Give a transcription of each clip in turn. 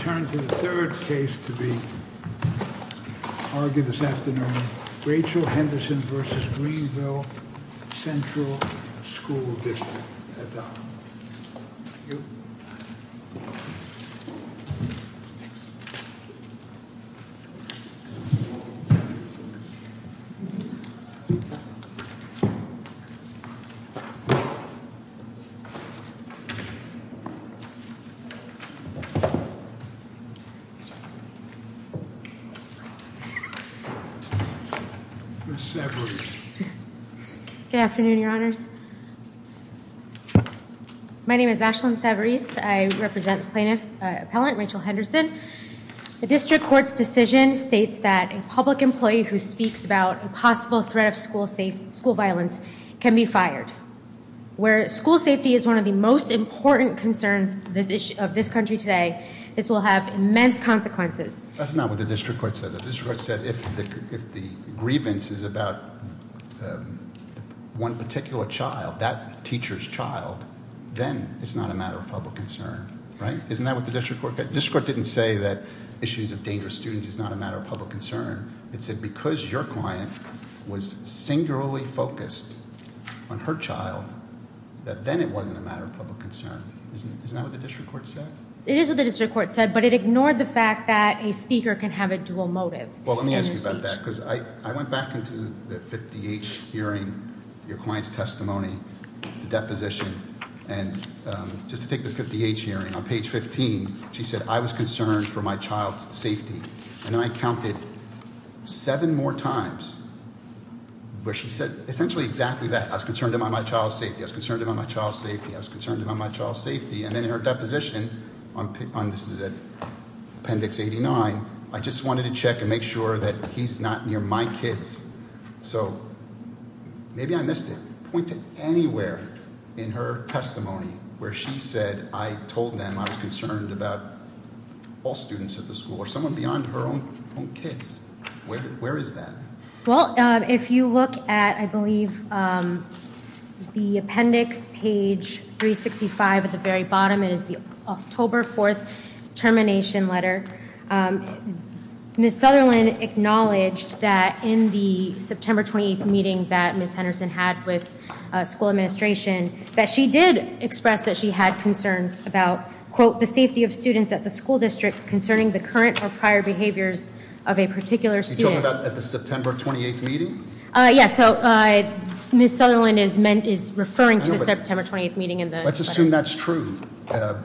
I turn to the third case to be argued this afternoon, Rachel Henderson v. Greenville Central School District. Ms. Savarese. Good afternoon, your honors. My name is Ashlyn Savarese. I represent plaintiff, appellant Rachel Henderson. The district court's decision states that a public employee who speaks about a possible threat of school violence can be fired. Where school safety is one of the most important concerns of this country today, this will have immense consequences. That's not what the district court said. The district court said if the grievance is about one particular child, that teacher's child, then it's not a matter of public concern. Isn't that what the district court said? The district court didn't say that issues of dangerous students is not a matter of public concern. It said because your client was singularly focused on her child, that then it wasn't a matter of public concern. Isn't that what the district court said? It is what the district court said, but it ignored the fact that a speaker can have a dual motive. Well, let me ask you about that, because I went back into the 50H hearing, your client's testimony, the deposition. And just to take the 50H hearing, on page 15, she said, I was concerned for my child's safety. And then I counted seven more times where she said essentially exactly that. I was concerned about my child's safety. I was concerned about my child's safety. I was concerned about my child's safety. And then in her deposition, this is appendix 89, I just wanted to check and make sure that he's not near my kids. So maybe I missed it. Point to anywhere in her testimony where she said, I told them I was concerned about all students at the school or someone beyond her own kids. Where is that? Well, if you look at, I believe, the appendix, page 365 at the very bottom, it is the October 4th termination letter. Ms. Sutherland acknowledged that in the September 28th meeting that Ms. Henderson had with school administration, that she did express that she had concerns about, quote, the safety of students at the school district concerning the current or prior behaviors of a particular student. You're talking about at the September 28th meeting? Yes, so Ms. Sutherland is referring to the September 28th meeting in the- Let's assume that's true.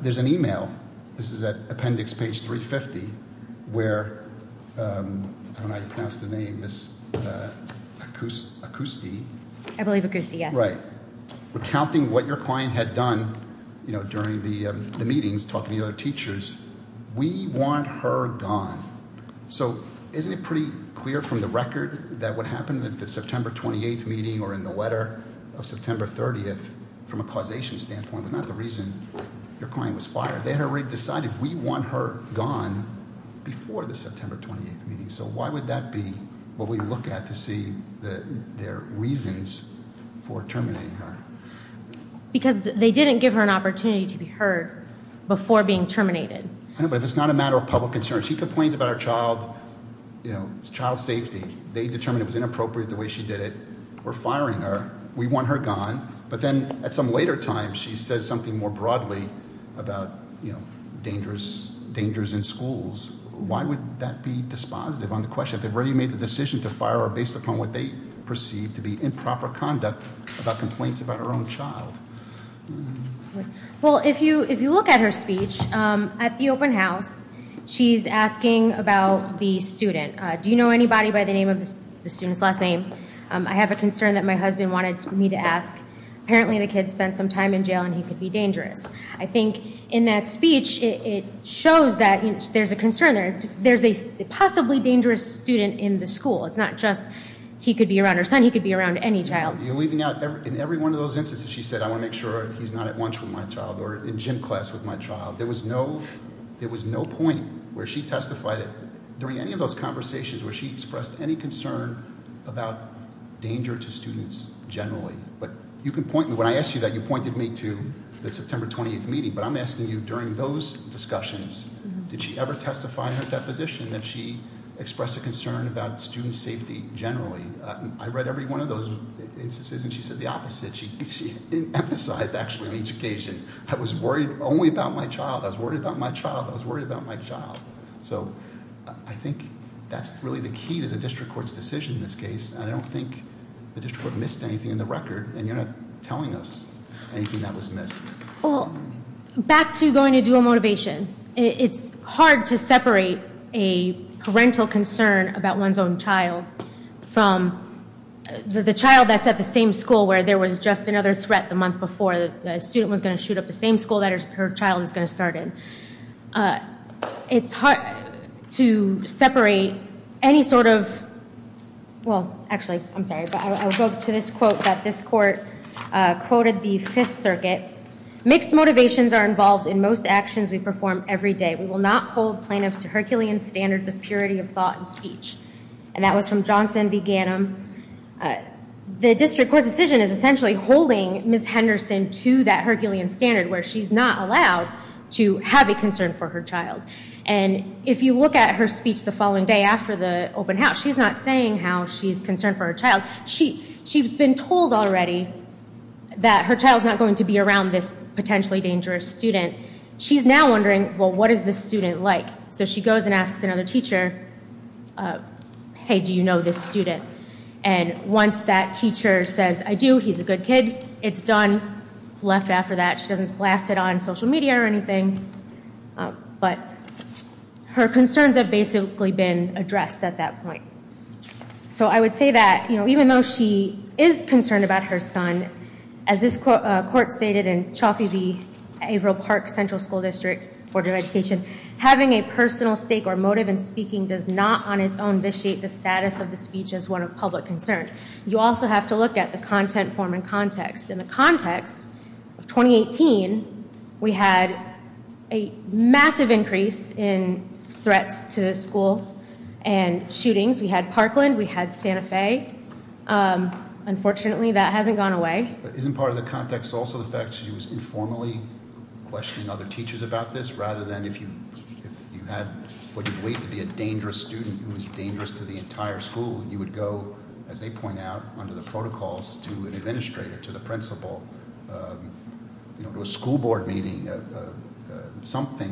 There's an email, this is at appendix page 350, where, I don't know how you pronounce the name, Ms. Acousti? I believe Acousti, yes. Right. Recounting what your client had done during the meetings, talking to the other teachers. We want her gone. So isn't it pretty clear from the record that what happened at the September 28th meeting or in the letter of September 30th, from a causation standpoint, was not the reason your client was fired. They had already decided we want her gone before the September 28th meeting. So why would that be what we look at to see their reasons for terminating her? Because they didn't give her an opportunity to be heard before being terminated. But if it's not a matter of public concern, she complains about her child's safety. They determined it was inappropriate the way she did it. We're firing her. We want her gone. But then, at some later time, she says something more broadly about dangers in schools. Why would that be dispositive on the question? They've already made the decision to fire her based upon what they perceive to be improper conduct about complaints about her own child. Well, if you look at her speech, at the open house, she's asking about the student. Do you know anybody by the name of the student's last name? I have a concern that my husband wanted me to ask. Apparently, the kid spent some time in jail, and he could be dangerous. I think in that speech, it shows that there's a concern there. There's a possibly dangerous student in the school. It's not just he could be around her son. He could be around any child. You're leaving out, in every one of those instances, she said, I want to make sure he's not at lunch with my child or in gym class with my child. There was no point where she testified, during any of those conversations, where she expressed any concern about danger to students generally. But you can point me. When I asked you that, you pointed me to the September 20th meeting. But I'm asking you, during those discussions, did she ever testify in her deposition that she expressed a concern about student safety generally? I read every one of those instances, and she said the opposite. She emphasized, actually, on each occasion. I was worried only about my child. I was worried about my child. I was worried about my child. So I think that's really the key to the district court's decision in this case. And I don't think the district court missed anything in the record. And you're not telling us anything that was missed. Back to going to dual motivation. It's hard to separate a parental concern about one's own child from the child that's at the same school where there was just another threat the month before. The student was going to shoot up the same school that her child is going to start in. It's hard to separate any sort of, well, actually, I'm sorry. But I will go to this quote that this court quoted the Fifth Circuit. Mixed motivations are involved in most actions we perform every day. We will not hold plaintiffs to Herculean standards of purity of thought and speech. And that was from Johnson v. Ganim. The district court's decision is essentially holding Ms. Henderson to that Herculean standard where she's not allowed to have a concern for her child. And if you look at her speech the following day after the open house, she's not saying how she's concerned for her child. She's been told already that her child's not going to be around this potentially dangerous student. She's now wondering, well, what is this student like? So she goes and asks another teacher, hey, do you know this student? And once that teacher says, I do, he's a good kid, it's done. It's left after that. She doesn't blast it on social media or anything. But her concerns have basically been addressed at that point. So I would say that even though she is concerned about her son, as this court stated in Chaffee v. Averill Park Central School District Order of Education, having a personal stake or motive in speaking does not on its own vitiate the status of the speech as one of public concern. You also have to look at the content form and context. In the context of 2018, we had a massive increase in threats to schools and shootings. We had Parkland, we had Santa Fe. Unfortunately, that hasn't gone away. Isn't part of the context also the fact she was informally questioning other teachers about this, rather than if you had what you believe to be a dangerous student who was dangerous to the entire school, you would go, as they point out, under the protocols, to an administrator, to the principal, to a school board meeting, something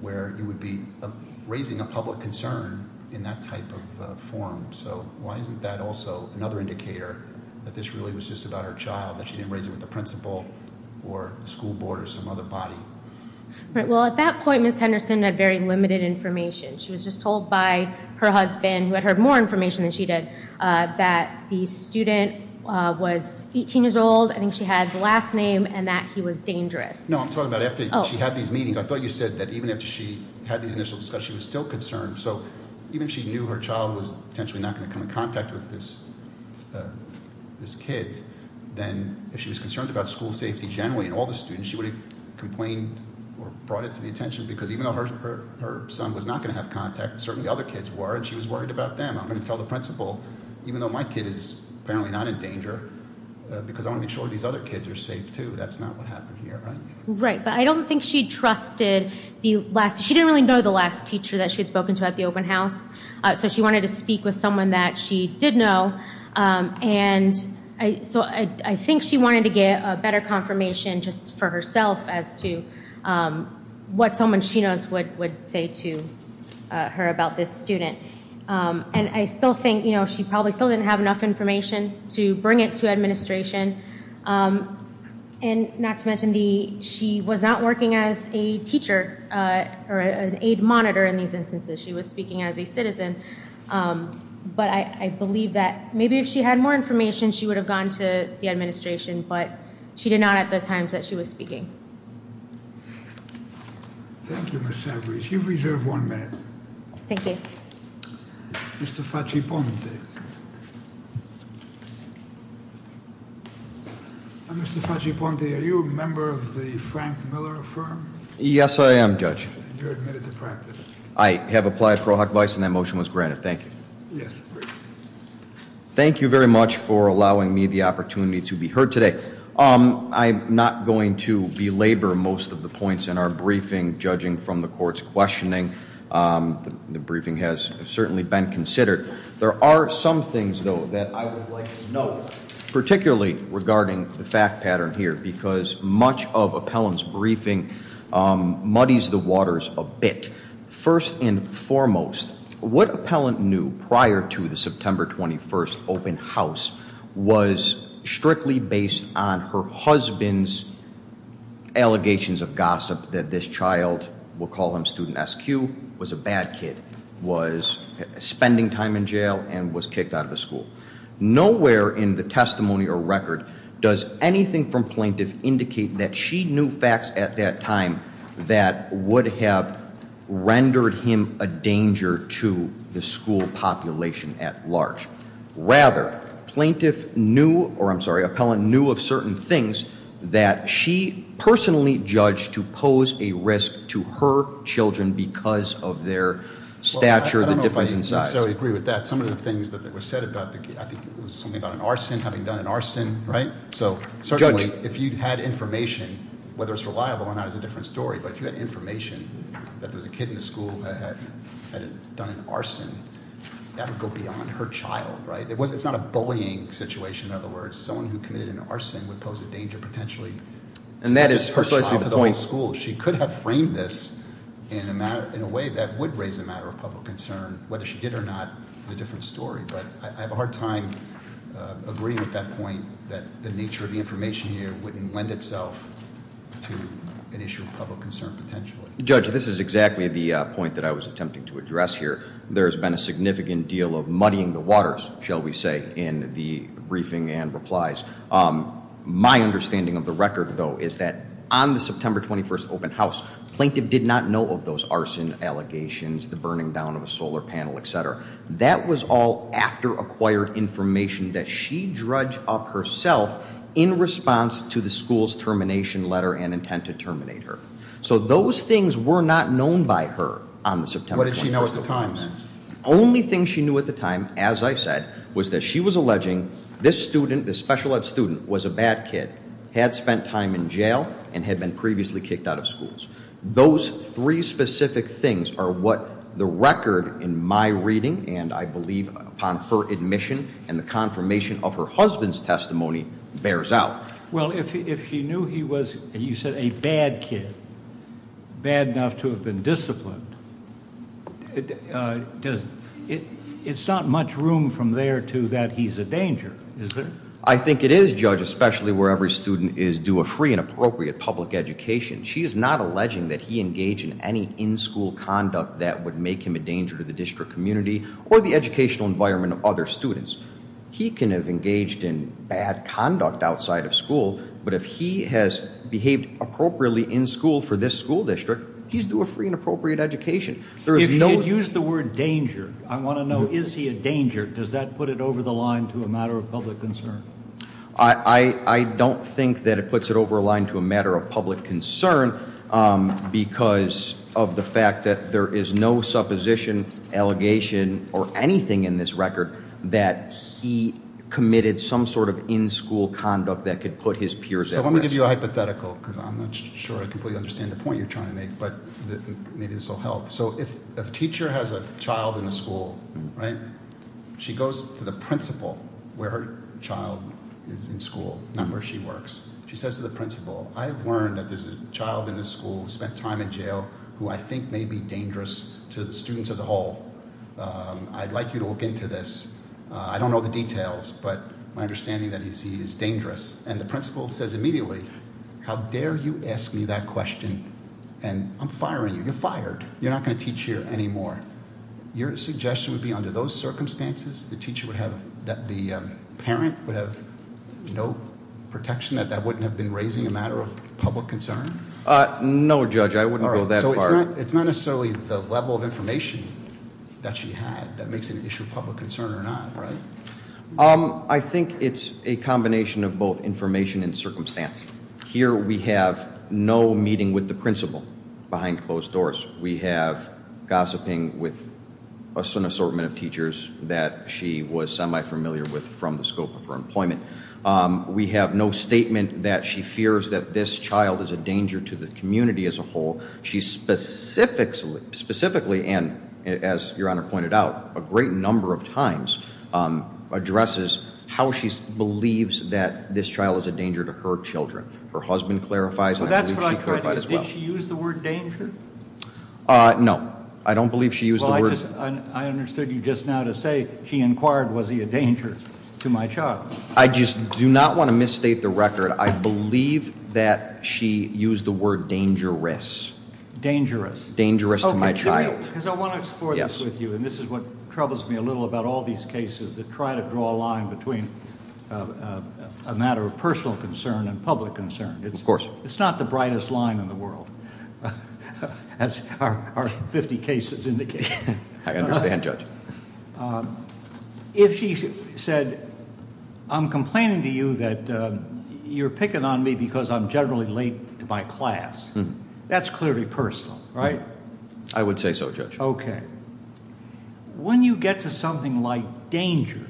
where you would be raising a public concern in that type of forum. So why isn't that also another indicator that this really was just about her child, that she didn't raise it with the principal or the school board or some other body? Well, at that point, Ms. Henderson had very limited information. She was just told by her husband, who had heard more information than she did, that the student was 18 years old, I think she had the last name, and that he was dangerous. No, I'm talking about after she had these meetings. I thought you said that even after she had these initial discussions, she was still concerned. So even if she knew her child was potentially not going to come in contact with this kid, then if she was concerned about school safety generally and all the students, she would have complained or brought it to the attention, because even though her son was not going to have contact, certainly the other kids were, and she was worried about them. I'm going to tell the principal, even though my kid is apparently not in danger, because I want to make sure these other kids are safe, too. That's not what happened here, right? Right, but I don't think she trusted the last. teacher that she had spoken to at the open house. So she wanted to speak with someone that she did know, and so I think she wanted to get a better confirmation just for herself as to what someone she knows would say to her about this student. And I still think she probably still didn't have enough information to bring it to administration, and not to mention she was not working as a teacher or an aid monitor in these instances. She was speaking as a citizen, but I believe that maybe if she had more information, she would have gone to the administration, but she did not at the times that she was speaking. Thank you, Ms. Savarese. You've reserved one minute. Thank you. Mr. Faciponte. Mr. Faciponte, are you a member of the Frank Miller firm? Yes, I am, Judge. You're admitted to practice. I have applied pro hoc vice, and that motion was granted. Thank you. Yes. Thank you very much for allowing me the opportunity to be heard today. I'm not going to belabor most of the points in our briefing, judging from the court's questioning. The briefing has certainly been considered. There are some things, though, that I would like to note, particularly regarding the fact pattern here, because much of Appellant's briefing muddies the waters a bit. First and foremost, what Appellant knew prior to the September 21st open house was strictly based on her husband's allegations of gossip that this child, we'll call him student SQ, was a bad kid, was spending time in jail, and was kicked out of the school. Nowhere in the testimony or record does anything from plaintiff indicate that she knew facts at that time that would have rendered him a danger to the school population at large. Rather, plaintiff knew, or I'm sorry, Appellant knew of certain things that she personally judged to pose a risk to her children because of their stature, the difference in size. I don't know if I necessarily agree with that. Some of the things that were said about the kid, I think it was something about an arson, having done an arson, right? So, certainly, if you had information, whether it's reliable or not is a different story, but if you had information that there was a kid in the school that had done an arson, that would go beyond her child, right? It's not a bullying situation, in other words. Someone who committed an arson would pose a danger potentially- And that is personalizing the point. To the whole school. She could have framed this in a way that would raise a matter of public concern. Whether she did or not is a different story. But I have a hard time agreeing with that point, that the nature of the information here wouldn't lend itself to an issue of public concern, potentially. Judge, this is exactly the point that I was attempting to address here. There's been a significant deal of muddying the waters, shall we say, in the briefing and replies. My understanding of the record, though, is that on the September 21st open house, plaintiff did not know of those arson allegations, the burning down of a solar panel, etc. That was all after acquired information that she dredged up herself in response to the school's termination letter and intent to terminate her. So those things were not known by her on the September 21st. What did she know at the time, then? Only thing she knew at the time, as I said, was that she was alleging this student, this special ed student, was a bad kid, had spent time in jail, and had been previously kicked out of schools. Those three specific things are what the record in my reading, and I believe upon her admission and the confirmation of her husband's testimony, bears out. Well, if she knew he was, you said, a bad kid, bad enough to have been disciplined, it's not much room from there to that he's a danger, is there? I think it is, Judge, especially where every student is due a free and appropriate public education. She is not alleging that he engaged in any in-school conduct that would make him a danger to the district community or the educational environment of other students. He can have engaged in bad conduct outside of school, but if he has behaved appropriately in school for this school district, he's due a free and appropriate education. If you could use the word danger, I want to know, is he a danger? Does that put it over the line to a matter of public concern? I don't think that it puts it over a line to a matter of public concern, because of the fact that there is no supposition, allegation, or anything in this record that he committed some sort of in-school conduct that could put his peers at risk. So let me give you a hypothetical, because I'm not sure I completely understand the point you're trying to make, but maybe this will help. So if a teacher has a child in a school, right? She goes to the principal where her child is in school, not where she works. She says to the principal, I've learned that there's a child in this school who spent time in jail who I think may be dangerous to the students as a whole. I'd like you to look into this. I don't know the details, but my understanding that he's dangerous. And the principal says immediately, how dare you ask me that question? And I'm firing you, you're fired. You're not going to teach here anymore. Your suggestion would be under those circumstances the teacher would have, that the parent would have no protection, that that wouldn't have been raising a matter of public concern? No, Judge, I wouldn't go that far. All right, so it's not necessarily the level of information that she had that makes it an issue of public concern or not, right? I think it's a combination of both information and circumstance. Here we have no meeting with the principal behind closed doors. We have gossiping with an assortment of teachers that she was semi-familiar with from the scope of her employment. We have no statement that she fears that this child is a danger to the community as a whole. She specifically, and as Your Honor pointed out, a great number of times addresses how she believes that this child is a danger to her children. Her husband clarifies, and I believe she clarified as well. Did she use the word danger? No, I don't believe she used the word- Well, I understood you just now to say she inquired, was he a danger to my child? I just do not want to misstate the record. I believe that she used the word dangerous. Dangerous? Dangerous to my child. Okay, because I want to explore this with you. Yes. And this is what troubles me a little about all these cases that try to draw a line between a matter of personal concern and public concern. Of course. It's not the brightest line in the world, as our 50 cases indicate. I understand, Judge. If she said, I'm complaining to you that you're picking on me because I'm generally late to my class, that's clearly personal, right? I would say so, Judge. Okay. When you get to something like danger,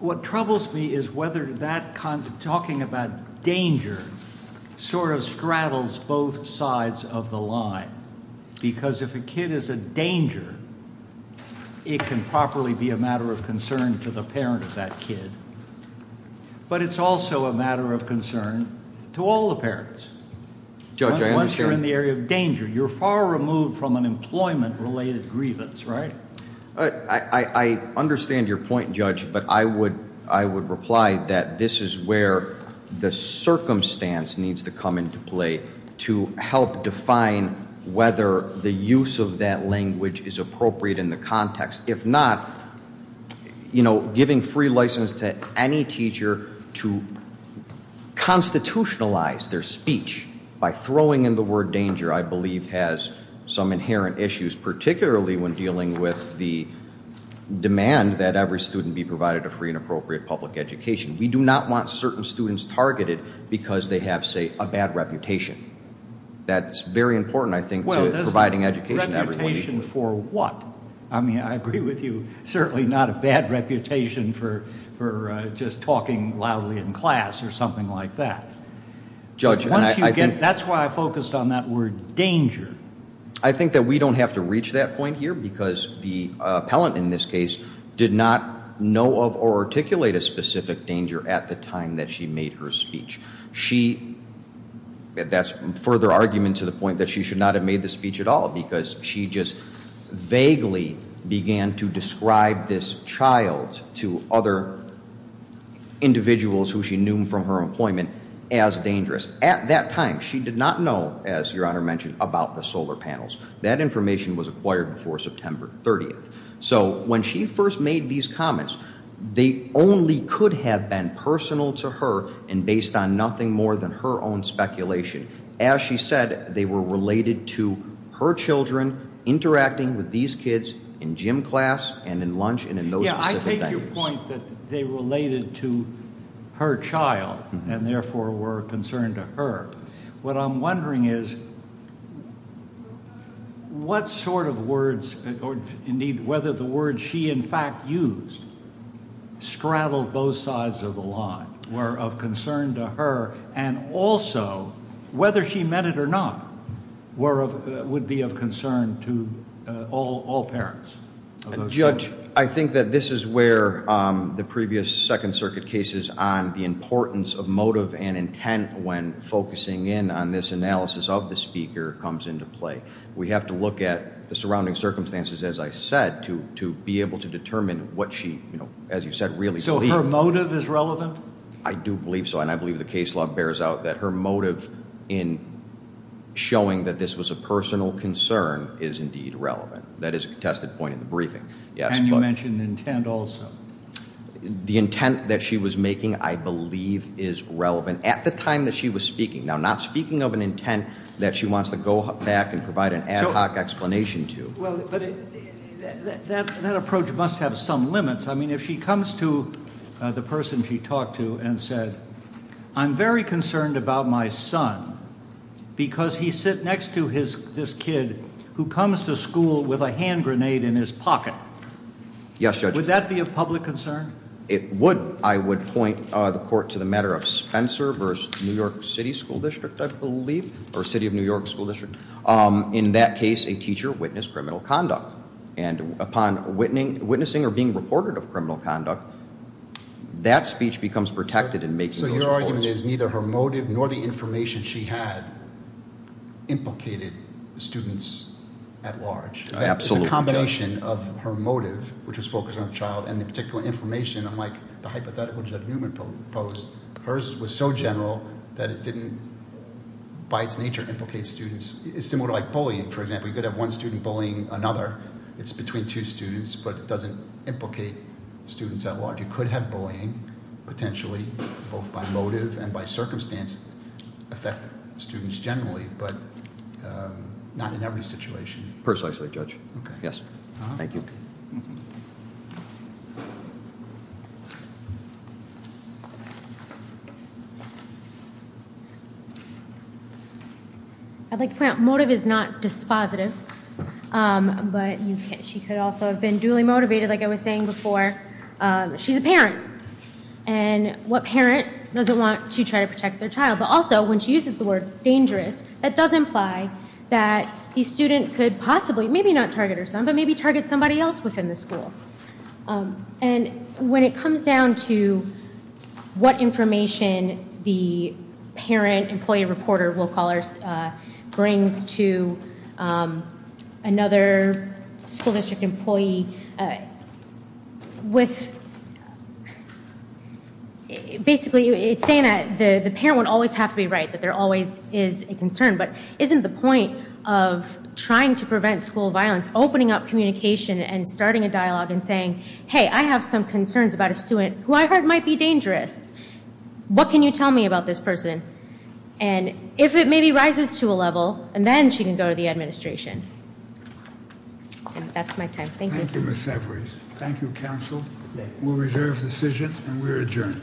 what troubles me is whether that kind of talking about danger sort of straddles both sides of the line. Because if a kid is a danger, it can properly be a matter of concern to the parent of that kid, but it's also a matter of concern to all the parents. Judge, I understand- You're far removed from an employment-related grievance, right? I understand your point, Judge, but I would reply that this is where the circumstance needs to come into play to help define whether the use of that language is appropriate in the context. If not, giving free license to any teacher to constitutionalize their speech by throwing in the word danger I believe has some inherent issues, particularly when dealing with the demand that every student be provided a free and appropriate public education. We do not want certain students targeted because they have, say, a bad reputation. That's very important, I think, to providing education to everybody. Reputation for what? I mean, I agree with you, certainly not a bad reputation for just talking loudly in class or something like that. Judge- That's why I focused on that word danger. I think that we don't have to reach that point here because the appellant in this case did not know of or articulate a specific danger at the time that she made her speech. That's further argument to the point that she should not have made the speech at all because she just vaguely began to describe this child to other individuals who she knew from her employment as dangerous. At that time, she did not know, as Your Honor mentioned, about the solar panels. That information was acquired before September 30th. So when she first made these comments, they only could have been personal to her and based on nothing more than her own speculation. As she said, they were related to her children interacting with these kids in gym class and in lunch and in those specific venues. Yeah, I take your point that they related to her child and therefore were a concern to her. What I'm wondering is what sort of words or indeed whether the words she in fact used straddled both sides of the line were of concern to her and also whether she meant it or not would be of concern to all parents of those children. Judge, I think that this is where the previous Second Circuit cases on the importance of motive and intent when focusing in on this analysis of the speaker comes into play. We have to look at the surrounding circumstances, as I said, to be able to determine what she, as you said, really believed. So her motive is relevant? I do believe so, and I believe the case law bears out that her motive in showing that this was a personal concern is indeed relevant. That is a contested point in the briefing. Can you mention intent also? The intent that she was making, I believe, is relevant at the time that she was speaking. Now, not speaking of an intent that she wants to go back and provide an ad hoc explanation to. Well, but that approach must have some limits. I mean, if she comes to the person she talked to and said, I'm very concerned about my son because he sits next to this kid who comes to school with a hand grenade in his pocket. Yes, Judge. Would that be a public concern? It would. I would point the court to the matter of Spencer v. New York City School District, I believe, or City of New York School District. In that case, a teacher witnessed criminal conduct. And upon witnessing or being reported of criminal conduct, that speech becomes protected in making those reports. So your argument is neither her motive nor the information she had implicated the students at large. Absolutely. It's a combination of her motive, which was focused on the child, and the particular information, unlike the hypothetical Judge Newman proposed. Hers was so general that it didn't, by its nature, implicate students. It's similar to like bullying, for example. You could have one student bullying another. It's between two students, but it doesn't implicate students at large. You could have bullying, potentially, both by motive and by circumstance, affect students generally, but not in every situation. Personally, Judge. Yes. Thank you. Thank you. I'd like to point out, motive is not dispositive. But she could also have been duly motivated, like I was saying before. She's a parent. And what parent doesn't want to try to protect their child? But also, when she uses the word dangerous, that does imply that the student could possibly, maybe not target her son, but maybe target somebody else within the school. And when it comes down to what information the parent, employee, reporter, will callers brings to another school district employee, with basically, it's saying that the parent would always have to be right, that there always is a concern. But isn't the point of trying to prevent school violence, opening up communication and starting a dialogue and saying, hey, I have some concerns about a student who I heard might be dangerous. What can you tell me about this person? And if it maybe rises to a level, and then she can go to the administration. And that's my time. Thank you. Thank you, Ms. Severs. Thank you, counsel. We'll reserve the decision, and we're adjourned.